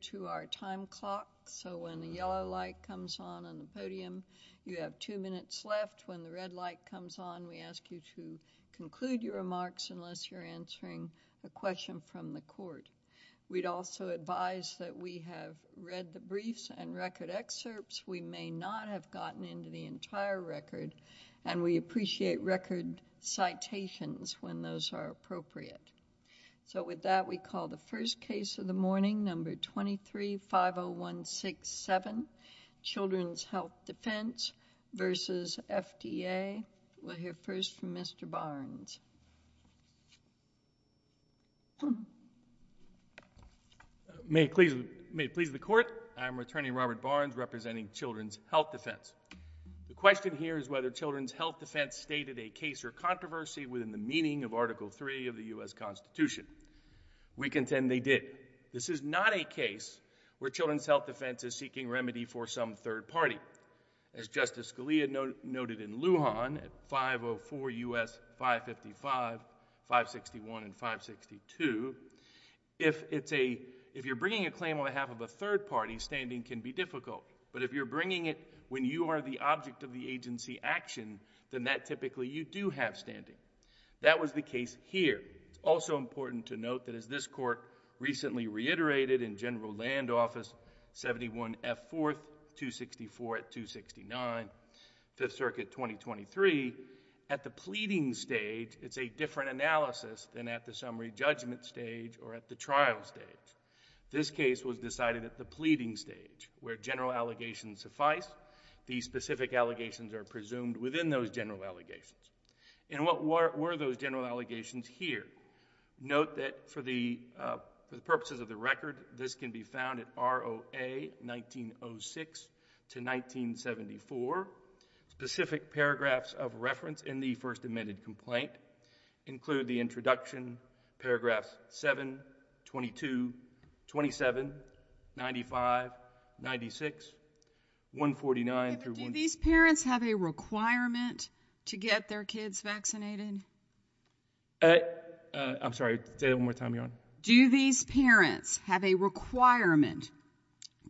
to our time clock, so when the yellow light comes on on the podium, you have two minutes left. When the red light comes on, we ask you to conclude your remarks unless you're answering a question from the court. We'd also advise that we have read the briefs and record excerpts. We may not have gotten into the entire record, and we appreciate record citations when those are appropriate. So with that, we call the first case of the morning, number 23-50167, Children's Health Defense v. FDA. We'll hear first from Mr. Barnes. May it please the Court, I'm Attorney Robert Barnes, representing Children's Health Defense. The question here is whether Children's Health Defense stated a case or controversy within the meaning of Article III of the U.S. Constitution. We contend they did. This is not a case where Children's Health Defense is seeking remedy for some third party. As Justice Scalia noted in Lujan at 504 U.S. 555, 561, and 562, if it's a, if you're bringing a claim on behalf of a third party, standing can be difficult. But if you're bringing it when you are the That was the case here. It's also important to note that as this Court recently reiterated in General Land Office 71 F. 4th, 264 at 269, 5th Circuit 2023, at the pleading stage, it's a different analysis than at the summary judgment stage or at the trial stage. This case was decided at the pleading stage, where general allegations suffice. These specific allegations are presumed within those general allegations. And what were those general allegations here? Note that for the purposes of the record, this can be found at ROA 1906 to 1974. Specific paragraphs of reference in the first admitted complaint include the introduction, paragraphs 7 22 27 95 96 1 49. Do these parents have a requirement to get their kids vaccinated? I'm sorry. Say that one more time. You're on. Do these parents have a requirement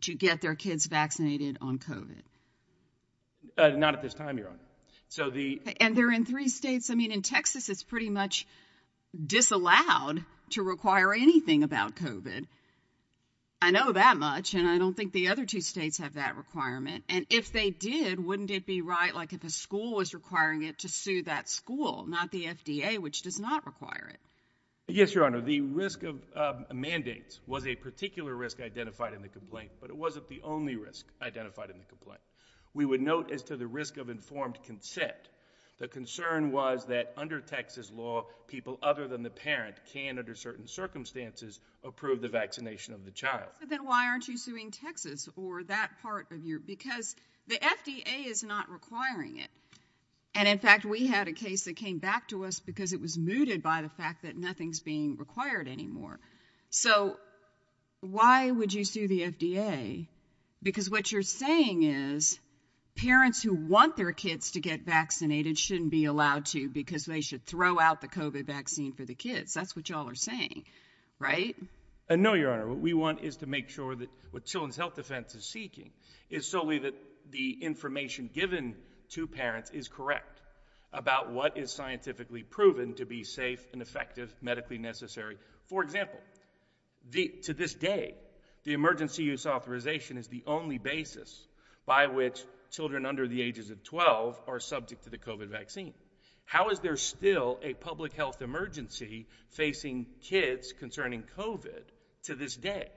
to get their kids vaccinated on COVID? Not at this time. You're on. So the and they're in three states. I mean, in Texas, it's pretty much disallowed to require anything about COVID. I know that much, and I don't think the other two states have that requirement. And if they did, wouldn't it be right? Like if a school was requiring it to sue that school, not the FDA, which does not require it? Yes, Your Honor. The risk of mandates was a particular risk identified in the complaint, but it wasn't the only risk identified in the complaint. We would note as to the risk of informed consent. The concern was that under Texas law, people other than the parent can, under certain circumstances, approve the vaccination of the child. Then why aren't you suing Texas or that part of you? Because the FDA is not requiring it. And in fact, we had a case that came back to us because it was mooted by the fact that nothing's being required anymore. So why would you sue the FDA? Because what you're saying is parents who want their kids to get vaccinated shouldn't be allowed to because they should throw out the COVID vaccine for the kids. That's what y'all are saying, right? No, Your Honor. What we want is to make sure that what Children's Health Defense is seeking is solely that the information given to parents is correct about what is scientifically proven to be safe and effective, medically necessary. For example, to this day, the emergency use authorization is the only basis by which Children under the ages of 12 are subject to the COVID vaccine. How is there still a public health emergency facing kids concerning COVID to this day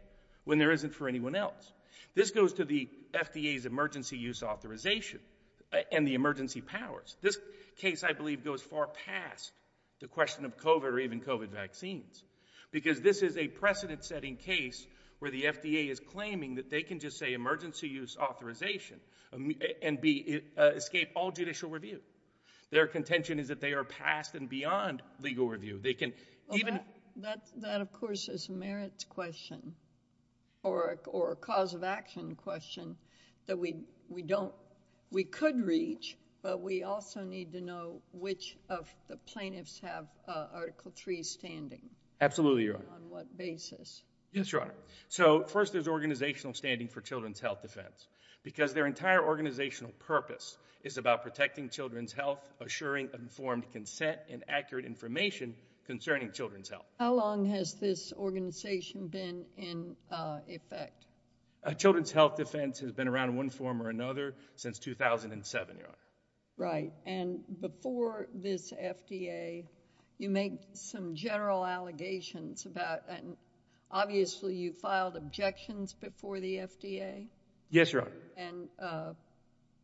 when there isn't for anyone else? This goes to the FDA's emergency use authorization and the emergency powers. This case, I believe, goes far past the question of COVID or even COVID vaccines because this is a precedent setting case where the FDA is claiming that they can just say emergency use authorization and escape all judicial review. Their contention is that they are past and beyond legal review. They can even... That, of course, is a merits question or a cause of action question that we could reach, but we also need to know which of the plaintiffs have Article 3 standing. Absolutely, Your Honor. On what basis? Yes, Your Honor. So, first, there's organizational standing for Children's Health Defense because their entire organizational purpose is about protecting children's health, assuring informed consent, and accurate information concerning children's health. How long has this organization been in effect? Children's Health Defense has been around one form or another since 2007, Your Honor. Right, and before this FDA, you make some general allegations about... Obviously, you filed objections before the FDA? Yes, Your Honor. And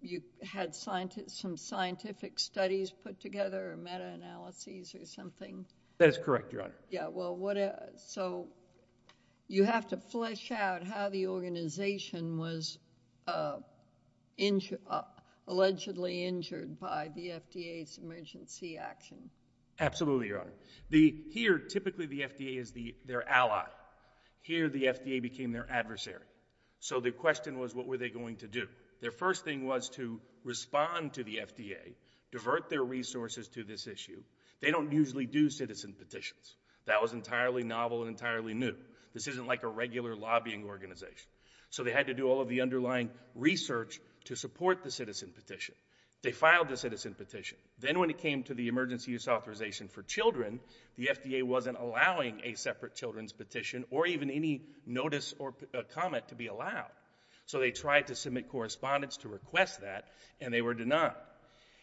you had some scientific studies put together or meta-analyses or something? That's correct, Your Honor. Yeah, well, what... So, you have to flesh out how the organization was injured... Allegedly injured by the FDA's emergency action? Absolutely, Your Honor. The... Here, typically, the FDA is their ally. Here, the FDA became their adversary. So, the question was, what were they going to do? Their first thing was to respond to the FDA, divert their resources to this issue. They don't usually do citizen petitions. That was entirely novel and entirely new. This isn't like a regular lobbying organization. So, they had to do all of the underlying research to support the citizen petition. They filed the citizen petition. Then, when it came to the emergency use authorization for children, the FDA wasn't allowing a separate children's petition or even any notice or comment to be allowed. So, they tried to submit correspondence to request that and they were denied.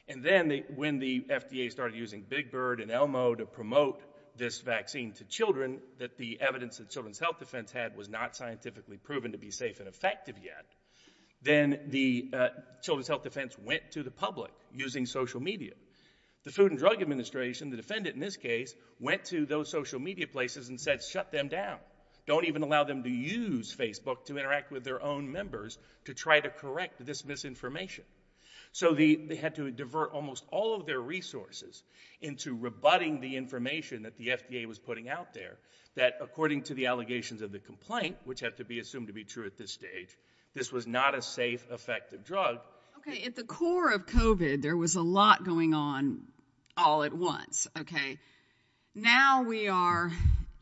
And then, when the FDA started using Big Bird and Elmo to promote this vaccine to children, that the evidence that Children's Health Defense had was not scientifically proven to be safe and effective yet, then the Children's Health Defense went to the public using social media. The Food and Drug Administration, the defendant in this case, went to those social media places and said, shut them down. Don't even allow them to use Facebook to interact with their own members to try to correct this misinformation. So, they had to divert almost all of their resources into rebutting the information that the FDA was putting out there that, according to the allegations of the complaint, which have to be assumed to be true at this stage, this was not a safe, effective drug. Okay. At the core of COVID, there was a lot going on all at once. Okay. Now, we are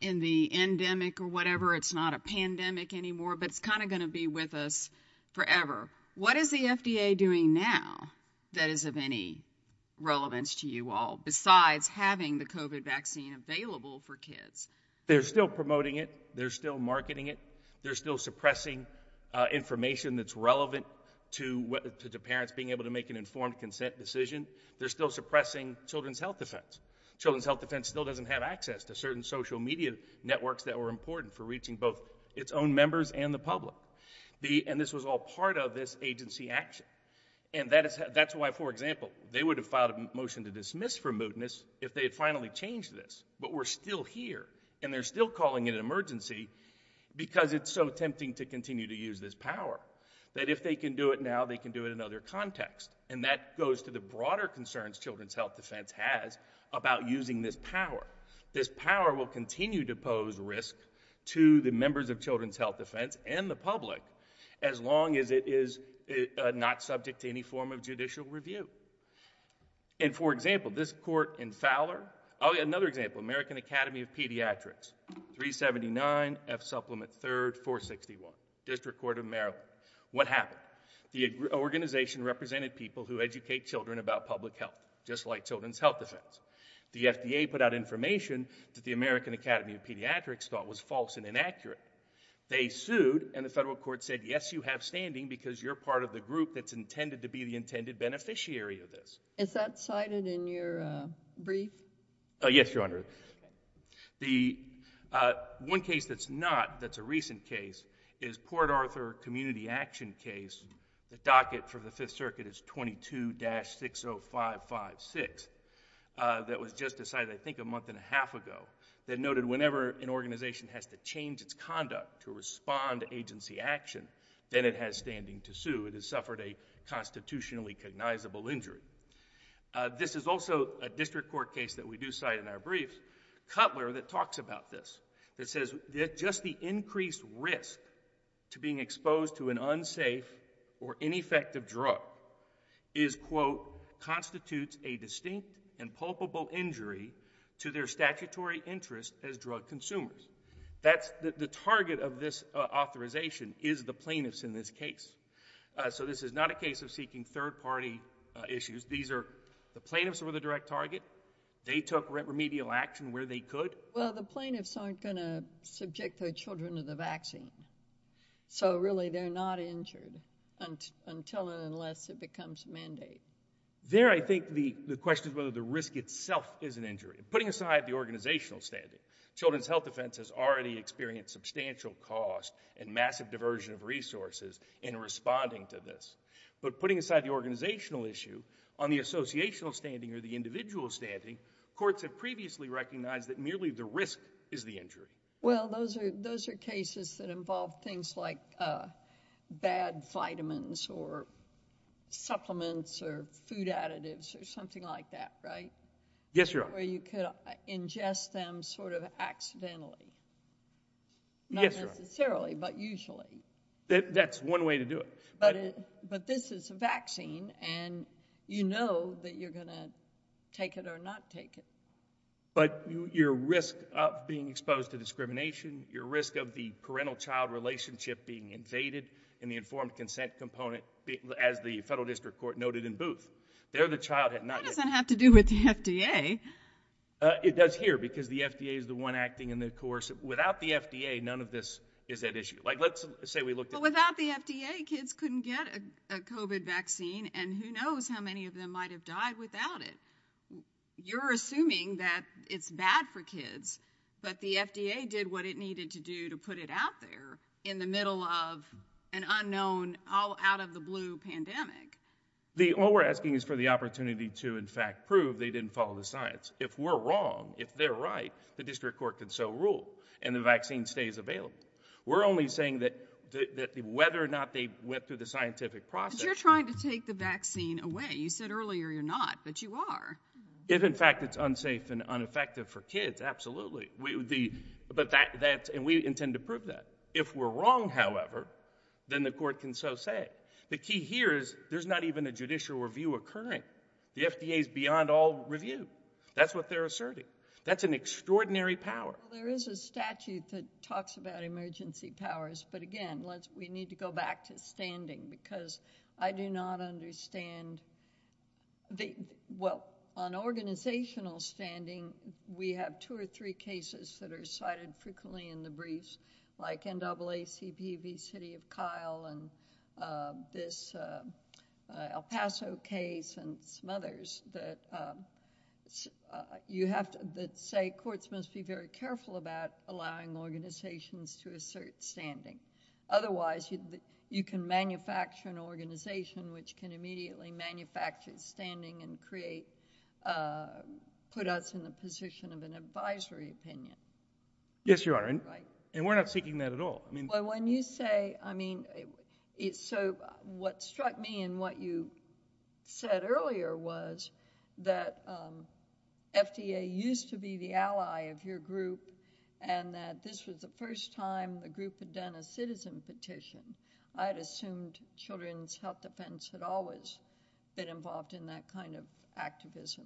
in the endemic or whatever. It's not a pandemic anymore, but it's kind of going to be with us forever. What is the FDA doing now that is of any relevance to you all, besides having the COVID vaccine available for kids? They're still promoting it. They're still marketing it. They're still suppressing information that's relevant to the parents being able to make an informed consent decision. They're still suppressing Children's Health Defense. Children's Health Defense still doesn't have access to certain social media networks that were important for reaching both its own members and the public. And this was all part of this agency action. And that's why, for example, they would have filed a motion to dismiss for mootness if they had finally changed this. But we're still here, and they're still calling it an emergency because it's so tempting to continue to use this power, that if they can do it now, they can do it in other contexts. And that goes to the broader concerns Children's Health Defense has about using this power. This power will continue to pose risk to the members of Children's Health Defense, and it's subject to any form of judicial review. And for example, this court in Fowler, oh yeah, another example, American Academy of Pediatrics, 379 F Supplement 3rd, 461, District Court of Maryland. What happened? The organization represented people who educate children about public health, just like Children's Health Defense. The FDA put out information that the American Academy of Pediatrics thought was false and inaccurate. They sued, and the federal court said, yes, you have standing because you're part of the group that's intended to be the intended beneficiary of this. Is that cited in your brief? Yes, Your Honor. The one case that's not, that's a recent case, is Port Arthur Community Action case, the docket for the Fifth Circuit is 22-60556, that was just decided I think a month and a half ago, that noted whenever an organization has to change its conduct to respond to agency action, then it has standing to sue. It has suffered a constitutionally cognizable injury. This is also a district court case that we do cite in our briefs, Cutler that talks about this, that says that just the increased risk to being exposed to an unsafe or ineffective drug is, quote, constitutes a distinct and consumer. That's the target of this authorization is the plaintiffs in this case. So this is not a case of seeking third-party issues. These are the plaintiffs were the direct target. They took remedial action where they could. Well, the plaintiffs aren't going to subject their children to the vaccine, so really they're not injured until and unless it becomes a mandate. There, I think the question is whether the risk itself is an injury. Putting aside the organizational standing, children's health defense has already experienced substantial cost and massive diversion of resources in responding to this, but putting aside the organizational issue on the associational standing or the individual standing, courts have previously recognized that merely the risk is the injury. Well, those are cases that involve things like bad vitamins or supplements or food accidentally. Yes. Not necessarily, but usually. That's one way to do it. But this is a vaccine and you know that you're going to take it or not take it. But your risk of being exposed to discrimination, your risk of the parental child relationship being invaded in the informed consent component as the federal district court noted in Booth, there the child had not yet. That doesn't appear because the FDA is the one acting in the course without the FDA. None of this is that issue. Like let's say we look without the FDA, kids couldn't get a covid vaccine and who knows how many of them might have died without it. You're assuming that it's bad for kids, but the FDA did what it needed to do to put it out there in the middle of an unknown, all out of the blue pandemic. The all we're asking is for the opportunity to in fact prove they didn't follow the science. If we're wrong, if they're right, the district court can so rule and the vaccine stays available. We're only saying that that whether or not they went through the scientific process. You're trying to take the vaccine away. You said earlier you're not, but you are. If in fact it's unsafe and ineffective for kids, absolutely. We would be, but that that and we intend to prove that. If we're wrong, however, then the court can so say. The key here is there's not even a judicial review occurring. The FDA is beyond all review. That's what they're asserting. That's an extraordinary power. There is a statute that talks about emergency powers, but again, let's, we need to go back to standing because I do not understand. Well, on organizational standing, we have two or three cases that are cited frequently in the briefs like NAACP v. City of Kyle and this El Paso case and some others that you have to, that say courts must be very careful about allowing organizations to assert standing. Otherwise you can manufacture an organization which can immediately manufacture standing and create, put us in the position of an advisory opinion. Yes, Your Honor, and we're not seeking that at all. Well, when you say, I mean, so what struck me in what you said earlier was that FDA used to be the ally of your group and that this was the first time the group had done a citizen petition. I had assumed children's health defense had always been involved in that kind of activism.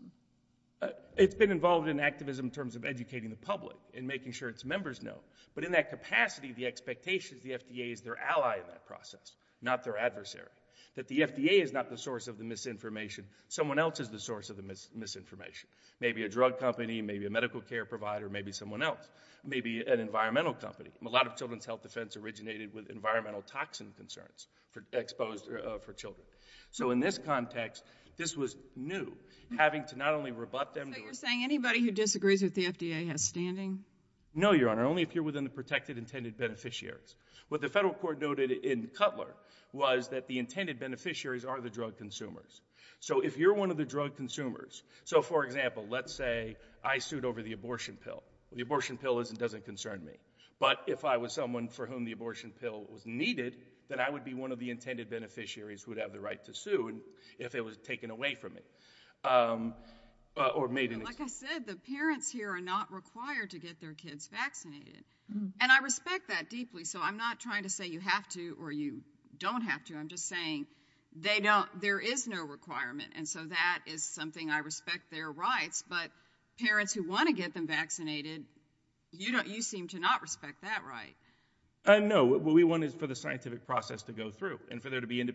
It's been involved in activism in terms of educating the public and making sure its members know. But in that capacity, the expectation is the FDA is their ally in that process, not their adversary, that the FDA is not the source of the misinformation. Someone else is the source of the misinformation. Maybe a drug company, maybe a medical care provider, maybe someone else, maybe an environmental company. A lot of children's health defense originated with environmental toxin concerns for exposed, for children. So in this context, this was new, having to not only rebut So you're saying anybody who disagrees with the FDA has standing? No, Your Honor, only if you're within the protected intended beneficiaries. What the federal court noted in Cutler was that the intended beneficiaries are the drug consumers. So if you're one of the drug consumers, so for example, let's say I sued over the abortion pill. The abortion pill doesn't concern me. But if I was someone for whom the abortion pill was needed, then I would be one of the intended beneficiaries who would have the right to sue if it was taken away from me or made. And like I said, the parents here are not required to get their kids vaccinated. And I respect that deeply. So I'm not trying to say you have to or you don't have to. I'm just saying they don't. There is no requirement. And so that is something I respect their rights. But parents who want to get them vaccinated, you know, you seem to not respect that right. I know what we want is for the scientific process to go through and for there to be the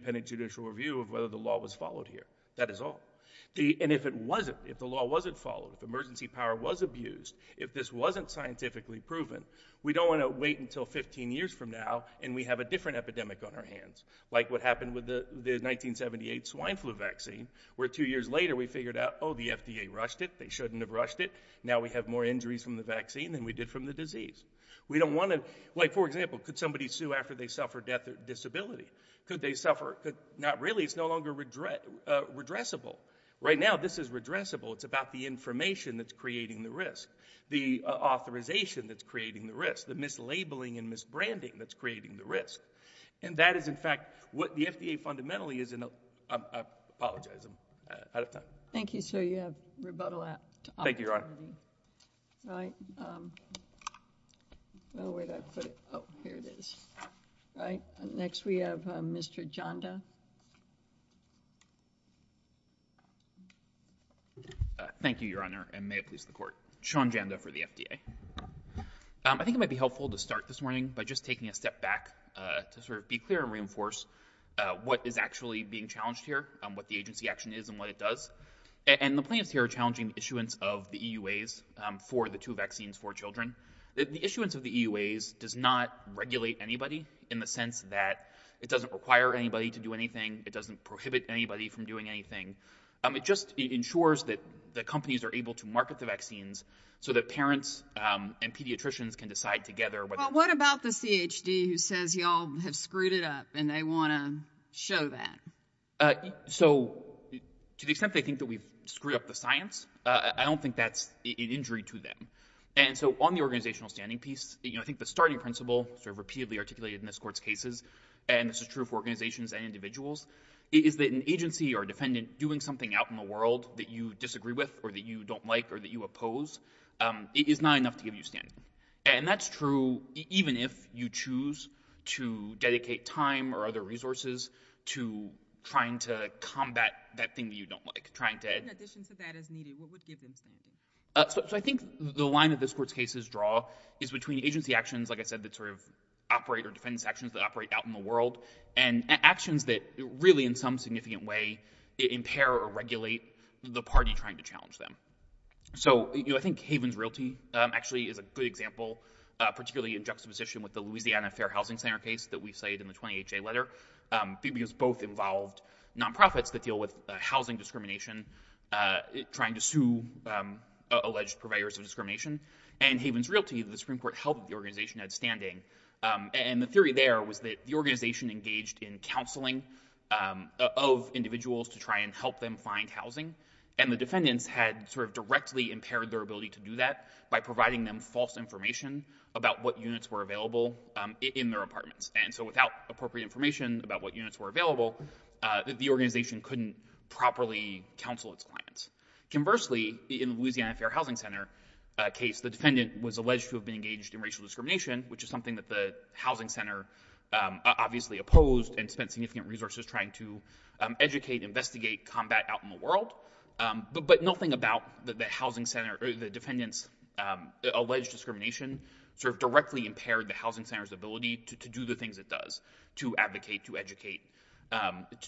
and if it wasn't, if the law wasn't followed, if emergency power was abused, if this wasn't scientifically proven, we don't want to wait until 15 years from now. And we have a different epidemic on our hands, like what happened with the 1978 swine flu vaccine, where two years later, we figured out, oh, the FDA rushed it, they shouldn't have rushed it. Now we have more injuries from the vaccine than we did from the disease. We don't want to wait, for example, could somebody sue after they suffer death or disability? Could they suffer? Not really. It's no longer redressable. Right now, this is redressable. It's about the information that's creating the risk, the authorization that's creating the risk, the mislabeling and misbranding that's creating the risk. And that is, in fact, what the FDA fundamentally is. And I apologize, I'm out of time. Thank you. So you have rebuttal. Thank you. All right. Next, we have Mr. Janda. Thank you, Your Honor, and may it please the court. Sean Janda for the FDA. I think it might be helpful to start this morning by just taking a step back to sort of be clear and reinforce what is actually being challenged here, what the agency action is and what it does. And the plans here are challenging issuance of the EUAs for the two vaccines for children. The issuance of the EUAs does not regulate anybody in the sense that it doesn't require anybody to do anything. It doesn't prohibit anybody from doing anything. It just ensures that the companies are able to market the vaccines so that parents and pediatricians can decide together. What about the CHD who says y'all have screwed it up and they want to show that? So to the extent they think that we've screwed up the science, I don't think that's an injury to them. And so on the organizational standing piece, you know, I think the starting principle sort of repeatedly articulated in this court's cases, and this is true for organizations and individuals, is that an agency or defendant doing something out in the world that you disagree with or that you don't like or that you oppose is not enough to give you standing. And that's true even if you choose to dedicate time or other resources to trying to combat that thing that you don't like. So I think the line that this court's cases draw is between agency actions, like I said, that sort of operate or defense actions that operate out in the world, and actions that really in some significant way impair or regulate the party trying to challenge them. So, you know, I think Haven's Realty actually is a good example, particularly in juxtaposition with the Louisiana Fair Housing Center case that we cited in the 20HA letter, because both involved nonprofits that deal with housing discrimination, trying to sue alleged providers of discrimination. And Haven's Realty, the Supreme Court helped the organization had standing. And the theory there was that the organization engaged in counseling of individuals to try and help them find housing. And the defendants had sort of directly impaired their ability to do that by providing them false information about what units were available in their apartments. And so without appropriate information about what units were available, the organization couldn't properly counsel its clients. Conversely, in Louisiana Fair Housing Center case, the defendant was alleged to have been engaged in racial discrimination, which is something that the housing center obviously opposed and spent significant resources trying to educate, investigate, combat out in the world. But nothing about the housing center, the defendants' alleged discrimination sort of directly impaired the housing center's ability to do the things it does, to advocate, to educate,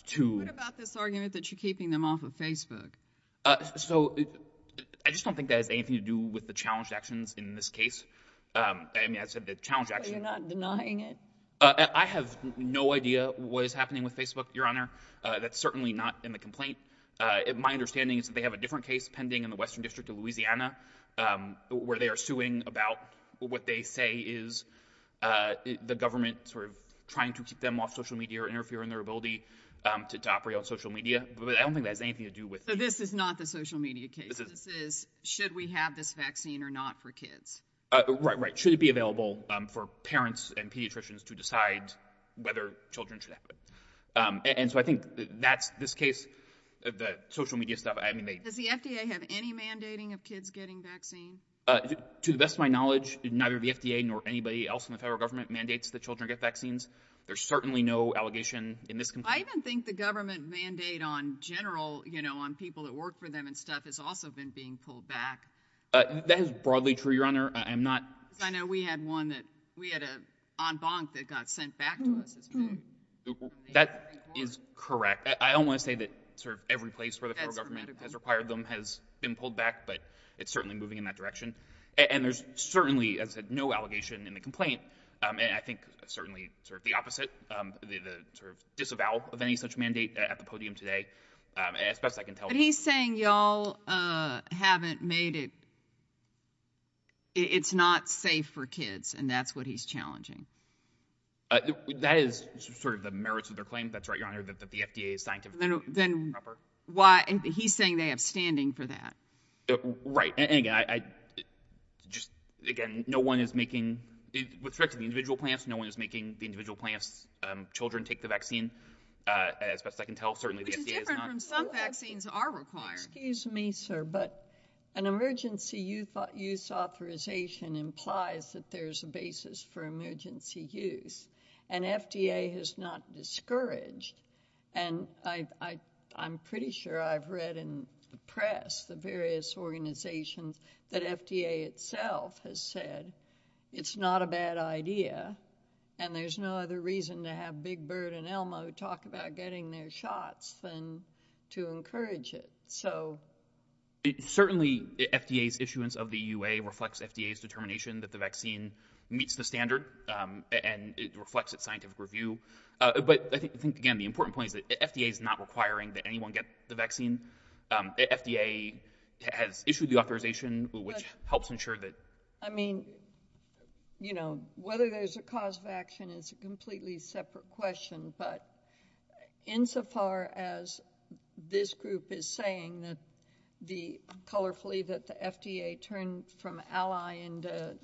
to... What about this argument that you're keeping them off of Facebook? So I just don't think that has anything to do with the challenge actions in this case. I mean, I said the challenge actions... So you're not denying it? I have no idea what is happening with Facebook, Your Honor. That's certainly not in the complaint. My understanding is that they have a different case pending in the Western District of Louisiana where they are suing about what they say is the government sort of trying to keep them off social media or interfering in their ability to operate on social media. But I don't think that has anything to do with... So this is not the social media case. This is, should we have this vaccine or not for kids? Right, right. Should it be available for parents and pediatricians to decide whether children should have it? And so I think that's this case, the social media stuff, I mean... Does the FDA have any mandating of kids getting vaccine? To the best of my knowledge, neither the FDA nor anybody else in the federal government mandates that children get vaccines. There's certainly no allegation in this complaint. I even think the government mandate on general, you know, on people that work for them and stuff has also been being pulled back. That is broadly true, Your Honor. I'm not... I know we had one that, we had an en banc that got sent back to us as well. That is correct. I don't want to say that sort of every place where the federal government has required them has been pulled back, but it's certainly moving in that direction. And there's certainly, as I said, no allegation in the complaint. And I think certainly sort of the opposite, the sort of disavowal of any such mandate at the podium today, as best I can tell. He's saying y'all haven't made it... It's not safe for kids, and that's what he's challenging. That is sort of the merits of their claim. That's right, Your Honor, that the FDA is scientifically... Then why... He's saying they have standing for that. Right. And again, I just... Again, no one is making... With respect to the individual plants, no one is making the individual plants children take the vaccine, as best I can tell. Which is different from some vaccines are required. Excuse me, sir, but an emergency use authorization implies that there's a basis for emergency use, and FDA has not discouraged. And I'm pretty sure I've read in the press the various organizations that FDA itself has said, it's not a bad idea, and there's no other reason to have Big Bird and Elmo talk about getting their shots than to encourage it. So... Certainly, FDA's issuance of the EUA reflects FDA's determination that the vaccine meets the standard, and it reflects its scientific review. But I think, again, the important point is that FDA is not requiring that anyone get the vaccine. FDA has issued the authorization, which helps ensure that... I mean, you know, whether there's a cause of action is a completely separate question, but insofar as this group is saying that the... Colorfully, that the FDA turned from ally into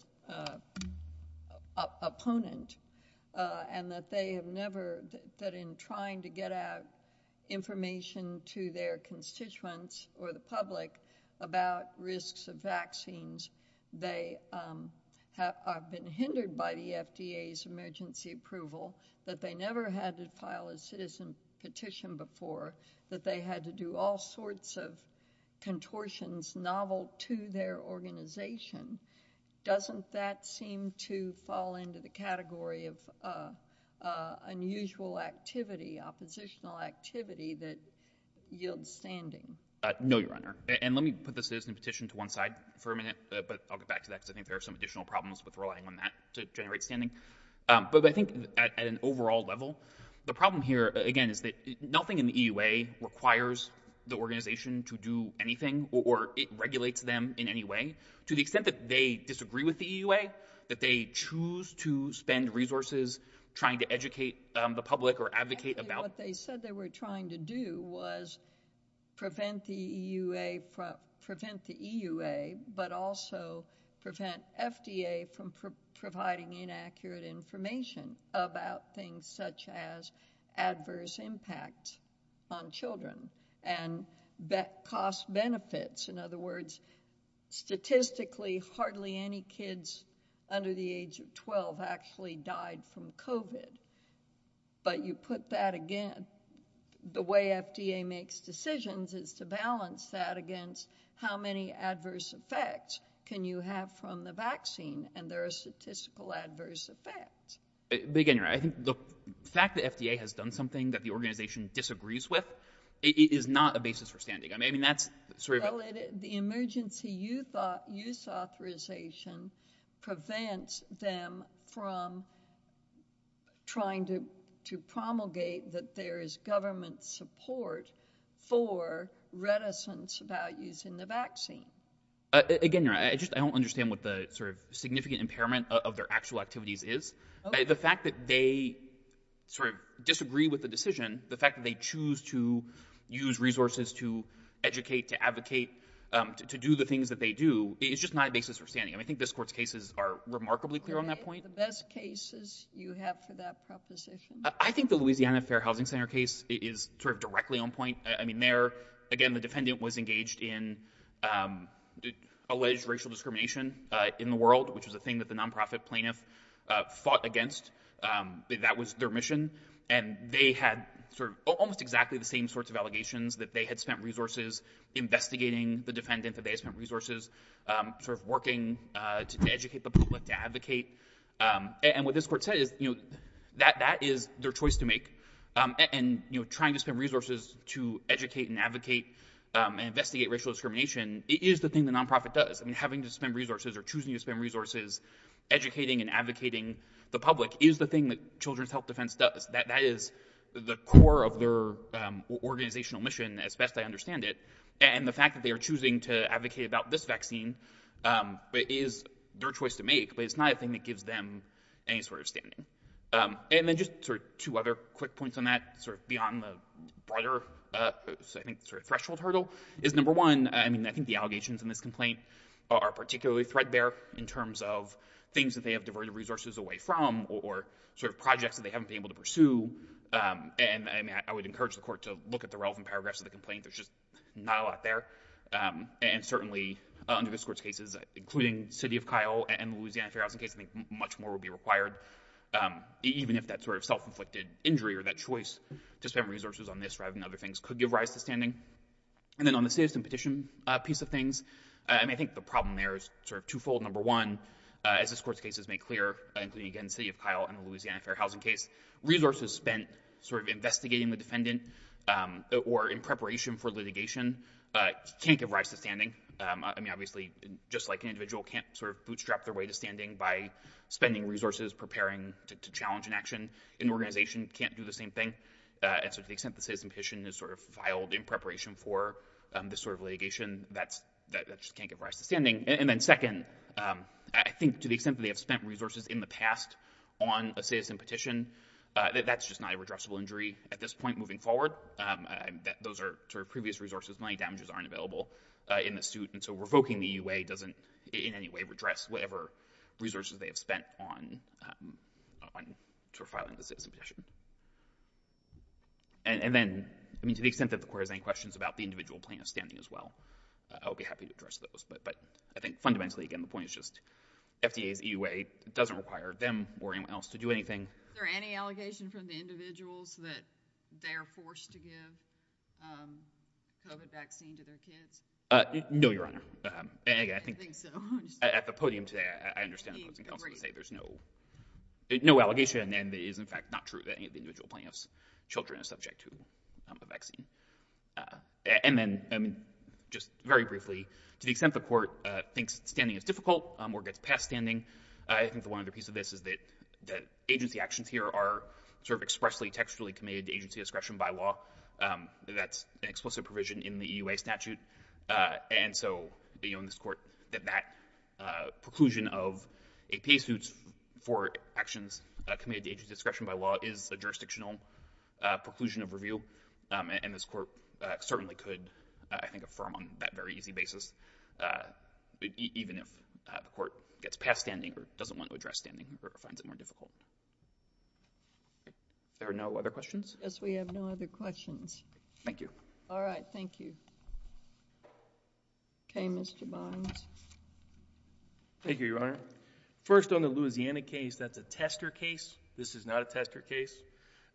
opponent, and that they have never... That in trying to get out information to their have been hindered by the FDA's emergency approval, that they never had to file a citizen petition before, that they had to do all sorts of contortions novel to their organization, doesn't that seem to fall into the category of unusual activity, oppositional activity that yields standing? No, Your Honor. And let me put the citizen petition to one side for a minute, but I'll get back to that, because I think there are some additional problems with relying on that to generate standing. But I think at an overall level, the problem here, again, is that nothing in the EUA requires the organization to do anything, or it regulates them in any way, to the extent that they disagree with the EUA, that they choose to spend resources trying to educate the public or advocate about... What they said they were trying to do was prevent the EUA, but also prevent FDA from providing inaccurate information about things such as adverse impact on children and cost benefits. In other words, statistically, hardly any kids under the age of 12 actually died from COVID. But you put that again, the way FDA makes decisions is to balance that against how many adverse effects can you have from the vaccine, and there are statistical adverse effects. But again, Your Honor, I think the fact that FDA has done something that the organization disagrees with is not a basis for standing. I mean, that's sort of... Well, the emergency use authorization prevents them from trying to promulgate that there is government support for reticence about using the vaccine. Again, Your Honor, I don't understand what the sort of significant impairment of their actual activities is. The fact that they sort of disagree with the decision, the fact that they choose to use resources to educate, to advocate, to do the things that they do, it's just not a basis for that point. The best cases you have for that proposition? I think the Louisiana Fair Housing Center case is sort of directly on point. I mean, there, again, the defendant was engaged in alleged racial discrimination in the world, which is a thing that the nonprofit plaintiff fought against. That was their mission, and they had sort of almost exactly the same sorts of allegations that they had spent resources investigating the defendant, that they spent resources sort of working to educate the public, to advocate. And what this court said is that that is their choice to make. And trying to spend resources to educate and advocate and investigate racial discrimination is the thing the nonprofit does. I mean, having to spend resources or choosing to spend resources educating and advocating the public is the thing that Children's Health Defense does. That is the core of their organizational mission, as best I understand it. And the fact that they are choosing to advocate about this vaccine is their choice to make, but it's not a thing that gives them any sort of standing. And then just sort of two other quick points on that, sort of beyond the broader, I think, sort of threshold hurdle, is number one, I mean, I think the allegations in this complaint are particularly threadbare in terms of things that they have diverted resources away from, or sort of projects that they haven't been able to pursue. And I would encourage the court to look at the relevant paragraphs of the complaint. There's not a lot there. And certainly, under this court's cases, including City of Kyle and the Louisiana Fair Housing case, I think much more would be required, even if that sort of self-inflicted injury or that choice to spend resources on this rather than other things could give rise to standing. And then on the citizen petition piece of things, I mean, I think the problem there is sort of twofold. Number one, as this court's case has made clear, including, again, City of Kyle and the Louisiana Fair Housing case, resources spent sort of investigating the defendant or in preparation for litigation can't give rise to standing. I mean, obviously, just like an individual can't sort of bootstrap their way to standing by spending resources preparing to challenge an action, an organization can't do the same thing. And so to the extent the citizen petition is sort of filed in preparation for this sort of litigation, that just can't give rise to standing. And then second, I think to the extent that they have spent resources in the past on a citizen petition, that's just not a redressable injury at this point moving forward. Those previous resources, money damages, aren't available in the suit. And so revoking the EUA doesn't in any way redress whatever resources they have spent on sort of filing the citizen petition. And then, I mean, to the extent that the court has any questions about the individual plan of standing as well, I'll be happy to address those. But I think fundamentally, again, the point is just FDA's EUA doesn't require them or anyone else to do anything. Is there any allegation from the individuals that they are forced to give COVID vaccine to their kids? No, Your Honor. At the podium today, I understand what's being said. There's no allegation. And it is, in fact, not true that any of the individual plaintiffs' children are subject to the vaccine. And then, I mean, just very briefly, to the extent the court thinks standing is difficult or gets past standing, I think the one other piece of this is that agency actions here are sort of expressly, textually committed to agency discretion by law. That's an explicit provision in the EUA statute. And so in this court, that preclusion of a pay suit for actions committed to agency discretion by law is a jurisdictional preclusion of review. And this court certainly could, I think, affirm on that very easy basis, even if the court gets past standing or doesn't want to address standing or finds it more difficult. There are no other questions? Yes, we have no other questions. Thank you. All right. Thank you. Okay, Mr. Bynes. Thank you, Your Honor. First, on the Louisiana case, that's a tester case. This is not a tester case.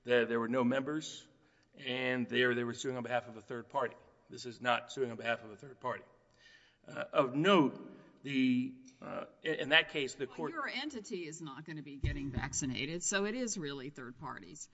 There were no members, and there they were suing on behalf of a third party. This is not suing on behalf of a third party. Of note, in that case, the court— Well, your entity is not going to be getting vaccinated, so it is really third parties.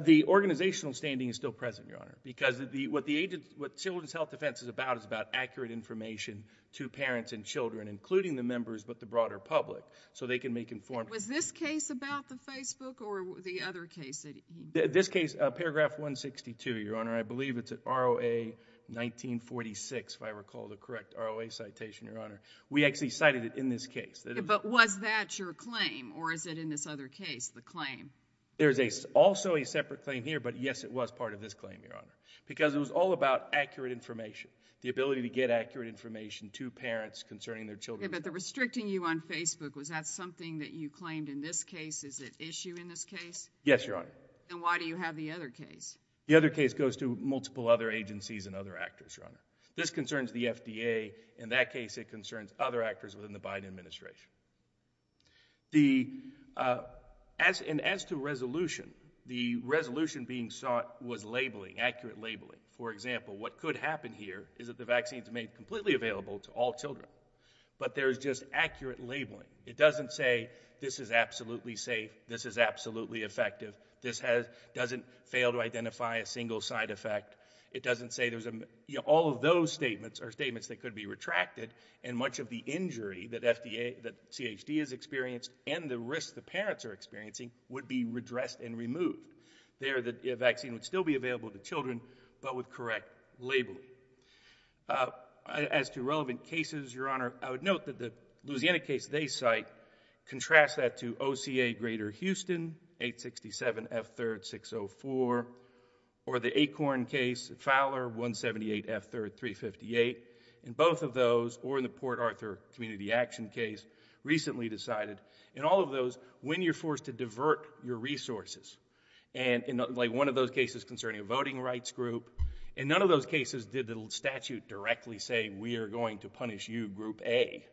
The organizational standing is still present, Your Honor, because what the Children's Health Defense is about is about accurate information to parents and children, including the members, but the broader public, so they can make informed— Was this case about the Facebook or the other case that he— This case, paragraph 162, Your Honor, I believe it's an ROA-1946, if I recall the correct ROA citation, Your Honor. We actually cited it in this case. But was that your claim, or is it in this other case, the claim? There's also a separate claim here, but yes, it was part of this claim, Your Honor, because it was all about accurate information, the ability to get accurate information to parents concerning their children's— The restricting you on Facebook, was that something that you claimed in this case? Is it issue in this case? Yes, Your Honor. And why do you have the other case? The other case goes to multiple other agencies and other actors, Your Honor. This concerns the FDA. In that case, it concerns other actors within the Biden administration. The— And as to resolution, the resolution being sought was labeling, accurate labeling. For example, what could happen here is that the vaccine is made completely available to all just accurate labeling. It doesn't say, this is absolutely safe, this is absolutely effective, this has— doesn't fail to identify a single side effect. It doesn't say there's a— You know, all of those statements are statements that could be retracted, and much of the injury that FDA— that CHD has experienced, and the risks the parents are experiencing, would be redressed and removed. There, the vaccine would still be available to children, but with correct labeling. Uh, as to relevant cases, Your Honor, I would note that the Louisiana case they cite contrasts that to OCA Greater Houston, 867F3-604, or the Acorn case, Fowler, 178F3-358. In both of those, or in the Port Arthur Community Action case, recently decided, in all of those, when you're forced to divert your resources, and in like one of those cases concerning a voting rights group, in none of those cases did the statute directly say, we are going to punish you, group A.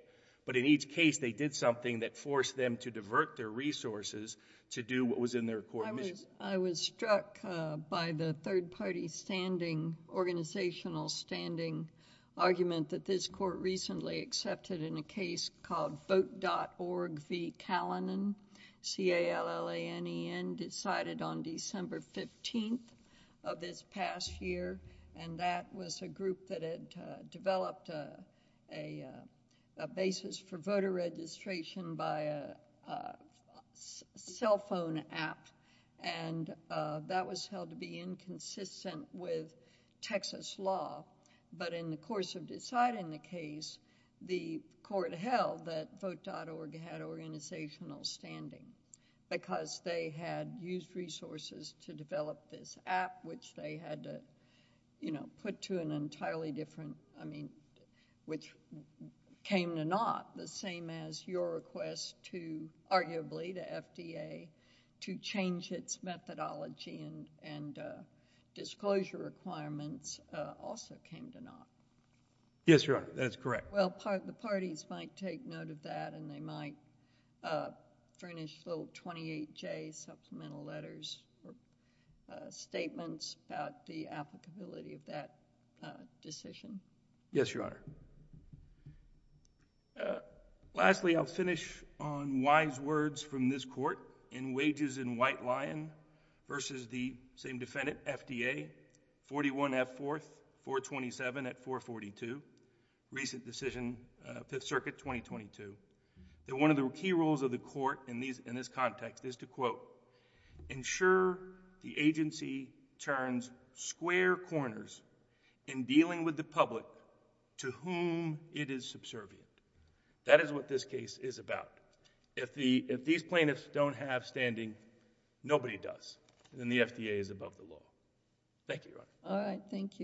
But in each case, they did something that forced them to divert their resources to do what was in their court mission. I was— I was struck, uh, by the third-party standing, organizational standing, argument that this court recently accepted in a case called Vote.org v. past year, and that was a group that had, uh, developed a, a, uh, a basis for voter registration by a, uh, cell phone app, and, uh, that was held to be inconsistent with Texas law. But in the course of deciding the case, the court held that Vote.org had organizational standing, because they had used resources to develop this app, which they had to, you know, put to an entirely different, I mean, which came to naught, the same as your request to, arguably, the FDA to change its methodology and, and, uh, disclosure requirements, uh, also came to naught. Yes, Your Honor, that's correct. Well, part— the parties might take note of that, and they might, uh, furnish little 28J supplemental letters or, uh, statements about the applicability of that, uh, decision. Yes, Your Honor. Uh, lastly, I'll finish on wise words from this court in wages in White Lion versus the same defendant, FDA, 41F4, 427 at 442, recent decision, uh, Fifth Circuit 2022, that one of the key roles of the court in these, in this context is to, quote, ensure the agency turns square corners in dealing with the public to whom it is subservient. That is what this case is about. If the, if these plaintiffs don't have standing, nobody does, then the FDA is above the law. Thank you, Your Honor. All right. Thank you.